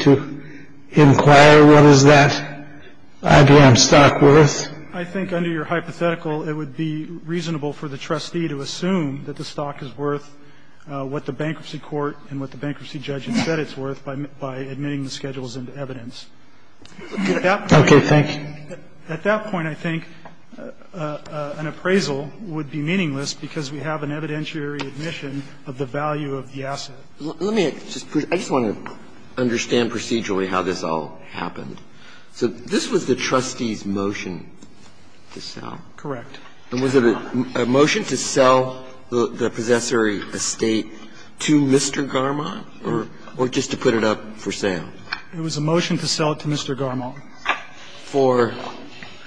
to inquire what is that IBM stock worth? I think under your hypothetical it would be reasonable for the trustee to assume that the stock is worth what the bankruptcy court and what the bankruptcy judge had said it's worth by admitting the schedules into evidence. At that point I think an appraisal would be meaningless because we have an evidentiary admission of the value of the asset. Breyer. I just want to understand procedurally how this all happened. So this was the trustee's motion to sell? Correct. And was it a motion to sell the possessory estate to Mr. Garmong or just to put it up for sale? It was a motion to sell it to Mr. Garmong. For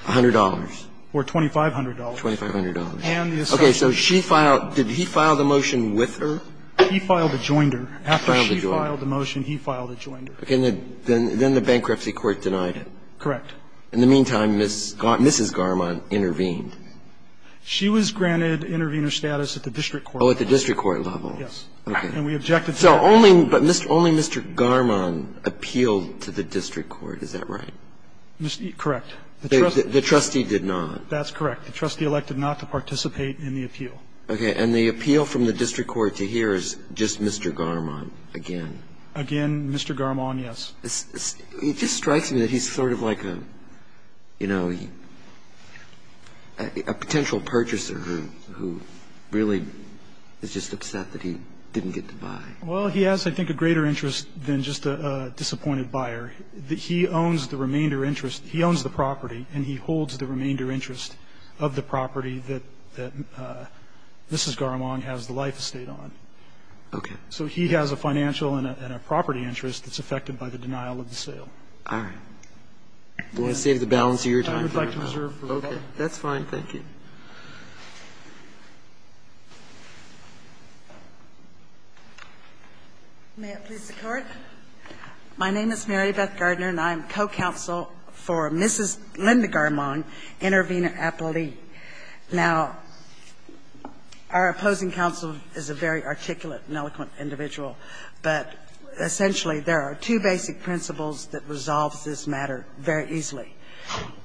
$100? For $2,500. $2,500. And the estate. Okay. So she filed – did he file the motion with her? He filed a joinder. After she filed the motion, he filed a joinder. Then the bankruptcy court denied it. Correct. In the meantime, Mrs. Garmong intervened. She was granted intervener status at the district court level. Oh, at the district court level. Yes. And we objected to that. So only Mr. Garmong appealed to the district court. Is that right? Correct. The trustee did not. That's correct. The trustee elected not to participate in the appeal. Okay. And the appeal from the district court to here is just Mr. Garmong again? Again, Mr. Garmong, yes. It just strikes me that he's sort of like a, you know, a potential purchaser who really is just upset that he didn't get to buy. Well, he has, I think, a greater interest than just a disappointed buyer. He owns the remainder interest. So he has a financial and a property interest that's affected by the denial of the sale. All right. I'm going to save the balance of your time. I would like to reserve for later. Okay. That's fine. Thank you. May it please the Court. My name is Mary Beth Gardner, and I am co-counsel for Mrs. Linda Garmong, Intervenor Appellee. Now, our opposing counsel is a very articulate and eloquent individual, but essentially there are two basic principles that resolve this matter very easily.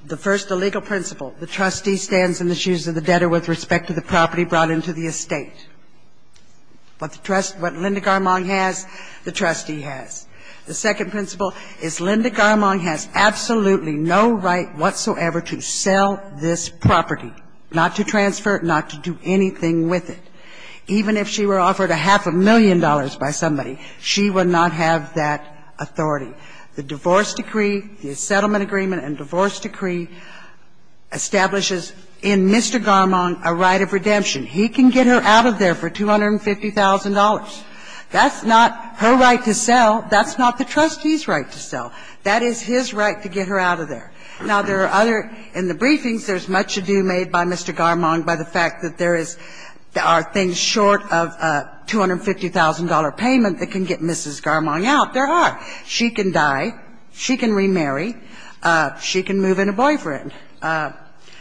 The first, the legal principle. The trustee stands in the shoes of the debtor with respect to the property brought into the estate. What the trustee, what Linda Garmong has, the trustee has. The second principle is Linda Garmong has absolutely no right whatsoever to sell this property, not to transfer it, not to do anything with it. Even if she were offered a half a million dollars by somebody, she would not have that authority. The divorce decree, the settlement agreement and divorce decree establishes in Mr. Garmong a right of redemption. He can get her out of there for $250,000. That's not her right to sell. That's not the trustee's right to sell. That is his right to get her out of there. Now, there are other – in the briefings, there's much ado made by Mr. Garmong by the fact that there is – are things short of a $250,000 payment that can get Mrs. Garmong out. There are. She can die. She can remarry. She can move in a boyfriend.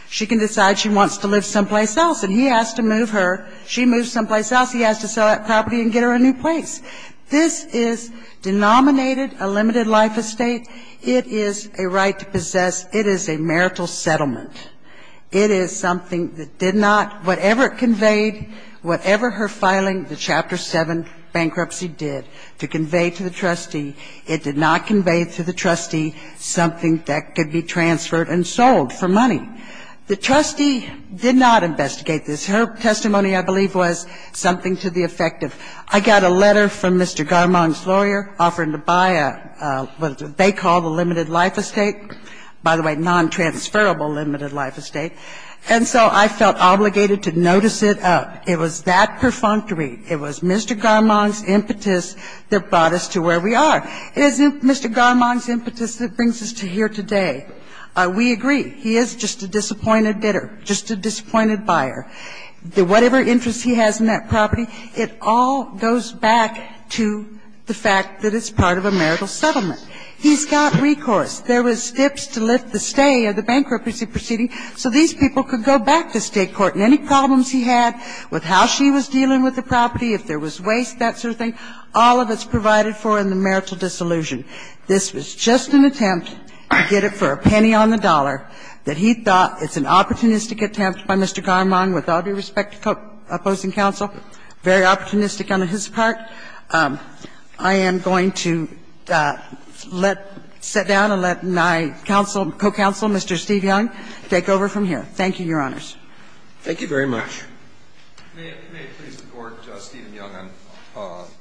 She can decide she wants to live someplace else, and he has to move her. She moves someplace else. He has to sell that property and get her a new place. This is denominated a limited life estate. It is a right to possess. It is a marital settlement. It is something that did not – whatever it conveyed, whatever her filing, the Chapter 7 bankruptcy did to convey to the trustee, it did not convey to the trustee something that could be transferred and sold for money. The trustee did not investigate this. Her testimony, I believe, was something to the effect of, I got a letter from the lawyer offering to buy what they call the limited life estate, by the way, non-transferable limited life estate. And so I felt obligated to notice it up. It was that perfunctory. It was Mr. Garmong's impetus that brought us to where we are. It is Mr. Garmong's impetus that brings us to here today. We agree. He is just a disappointed bidder, just a disappointed buyer. Whatever interest he has in that property, it all goes back to the fact that it's part of a marital settlement. He's got recourse. There was tips to lift the stay of the bankruptcy proceeding so these people could go back to State court. And any problems he had with how she was dealing with the property, if there was waste, that sort of thing, all of it's provided for in the marital dissolution. This was just an attempt to get it for a penny on the dollar that he thought it's an opportunistic attempt by Mr. Garmong, with all due respect to the opposing counsel, very opportunistic on his part. I am going to let my counsel, co-counsel, Mr. Steve Young, take over from here. Thank you, Your Honors. Thank you very much. May it please the Court, Steven Young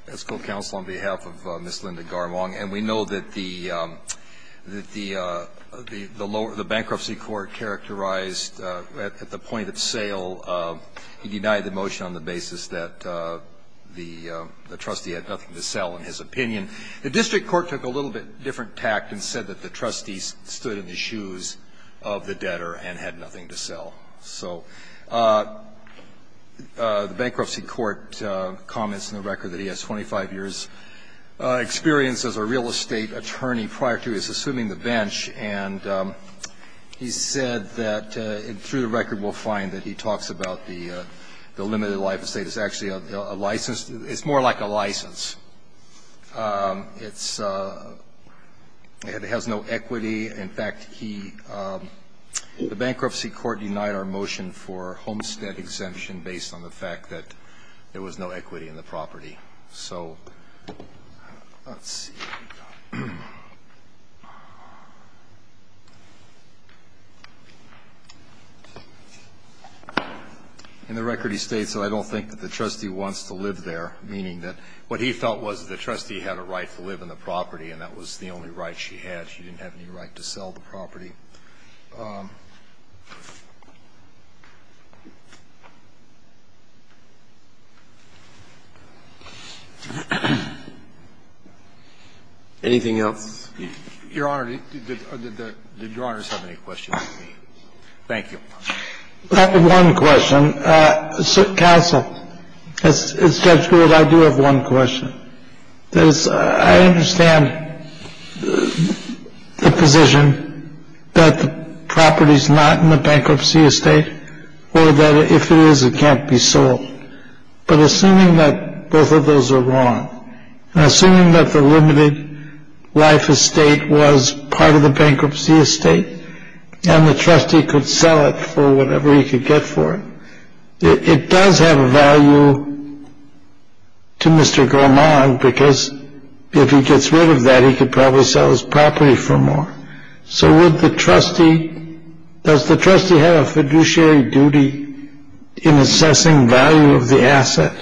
as co-counsel on behalf of Ms. Linda Garmong. And we know that the bankruptcy court characterized at the point of sale, he denied the motion on the basis that the trustee had nothing to sell in his opinion. The district court took a little bit different tact and said that the trustee stood in the shoes of the debtor and had nothing to sell. So the bankruptcy court comments in the record that he has 25 years' experience as a real estate attorney prior to his assuming the bench, and he said that through the record we'll find that he talks about the limited life estate as actually a license. It's more like a license. It has no equity. In fact, the bankruptcy court denied our motion for homestead exemption based on the fact that there was no equity in the property. So let's see. In the record he states that I don't think that the trustee wants to live there, meaning that what he felt was that the trustee had a right to live in the property and that was the only right she had. So the bankruptcy court made the case that the trustee was going to live there, which is the only right he had, because he had no equity. And that's the only right he had. He didn't have any right to sell the property. Anything else? Your Honor, did Your Honors have any questions? Thank you. I have one question. Counsel, as Judge Brewer, I do have one question. I understand the position that the property is not in the bankruptcy estate, or that if it is, it can't be sold. But assuming that both of those are wrong, and assuming that the limited life estate was part of the bankruptcy estate and the trustee could sell it for whatever he could get for it, it does have a value to Mr. Gorman, because if he gets rid of that, he could probably sell his property for more. So would the trustee, does the trustee have a fiduciary duty in assessing value of the asset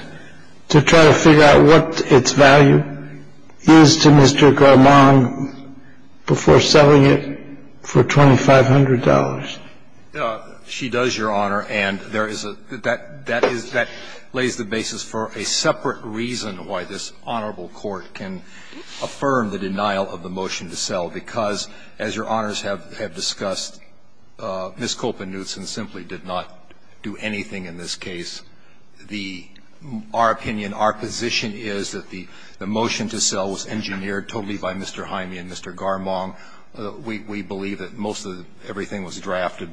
to try to figure out what its value is to Mr. Gorman before selling it for $2,500? She does, Your Honor. And there is a – that lays the basis for a separate reason why this honorable court can affirm the denial of the motion to sell, because, as Your Honors have discussed, Ms. Kopennewtson simply did not do anything in this case. The – our opinion, our position is that the motion to sell was engineered totally by Mr. Hyme and Mr. Garmong. We believe that most of everything was drafted.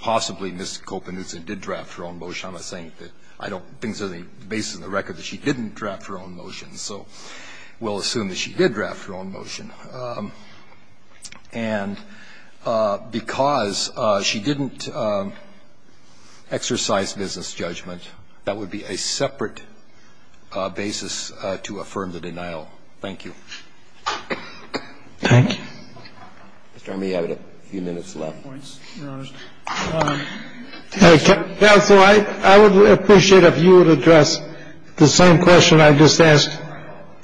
Possibly Ms. Kopennewtson did draft her own motion. I'm not saying that I don't think there's any basis in the record that she didn't draft her own motion. So we'll assume that she did draft her own motion. And because she didn't exercise business judgment, that would be a separate basis to affirm the denial. Thank you. Thank you. Mr. Hyme, you have a few minutes left. Your Honor. Counsel, I would appreciate if you would address the same question I just asked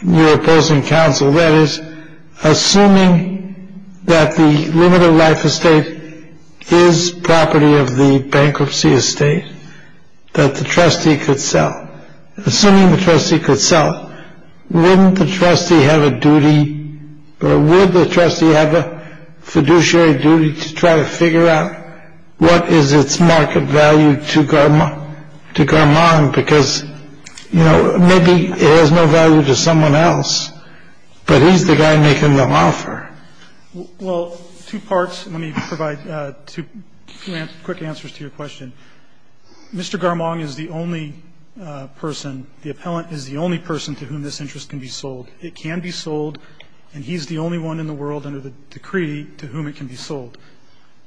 your opposing counsel. That is, assuming that the limited life estate is property of the bankruptcy estate that the trustee could sell. Assuming the trustee could sell, wouldn't the trustee have a duty – or would the trustee have a fiduciary duty to try to figure out what is its market value to Garmong? Because, you know, maybe it has no value to someone else, but he's the guy making the offer. Well, two parts. Let me provide two quick answers to your question. Mr. Garmong is the only person, the appellant is the only person to whom this interest can be sold. It can be sold, and he's the only one in the world under the decree to whom it can be sold.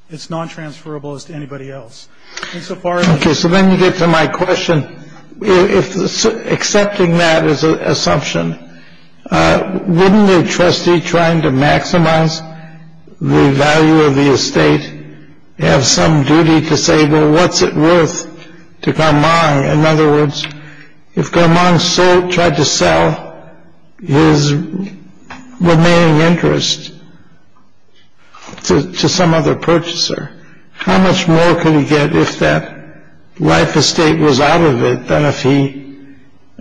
It's nontransferable as to anybody else. Okay, so let me get to my question. If accepting that as an assumption, wouldn't the trustee trying to maximize the value of the estate have some duty to say, well, what's it worth to Garmong? In other words, if Garmong tried to sell his remaining interest to some other purchaser, how much more could he get if that life estate was out of it than if he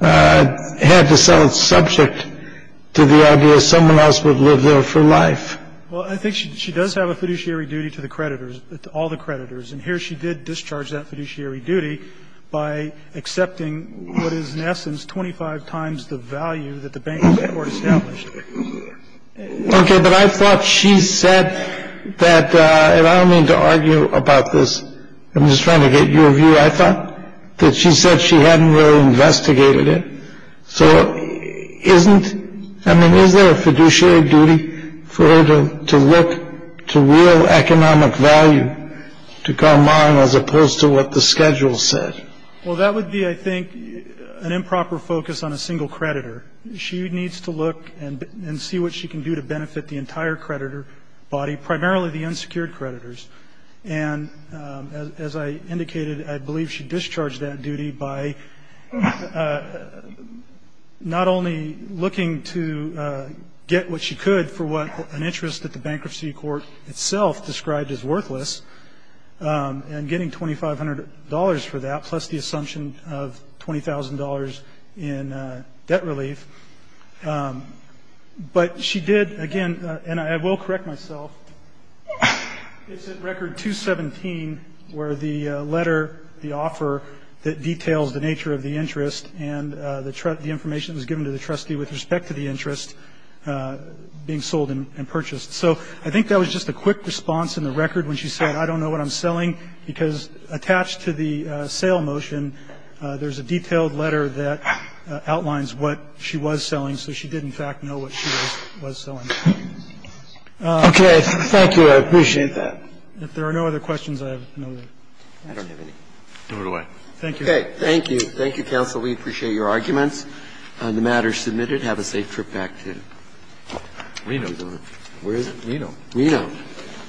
had to sell it subject to the idea that someone else would live there for life? Well, I think she does have a fiduciary duty to the creditors, to all the creditors. And here she did discharge that fiduciary duty by accepting what is, in essence, 25 times the value that the bank had established. Okay, but I thought she said that, and I don't mean to argue about this. I'm just trying to get your view. I thought that she said she hadn't really investigated it. So isn't, I mean, is there a fiduciary duty for her to look to real economic value to Garmong as opposed to what the schedule said? Well, that would be, I think, an improper focus on a single creditor. She needs to look and see what she can do to benefit the entire creditor body, primarily the unsecured creditors. And as I indicated, I believe she discharged that duty by not only looking to get what she could for what an interest at the bankruptcy court itself described as worthless and getting $2,500 for that plus the assumption of $20,000 in debt relief. But she did, again, and I will correct myself, it's at record 217 where the letter, the offer that details the nature of the interest and the information that was given to the trustee with respect to the interest being sold and purchased. So I think that was just a quick response in the record when she said, I don't know what I'm selling because attached to the sale motion, there's a detailed letter that outlines what she was selling. So she did, in fact, know what she was selling. Okay. Thank you. I appreciate that. If there are no other questions, I have no other. I don't have any. Do it away. Thank you. Okay. Thank you. Thank you, counsel. We appreciate your arguments on the matter submitted. Have a safe trip back to Reno. Where is it? Reno. Reno.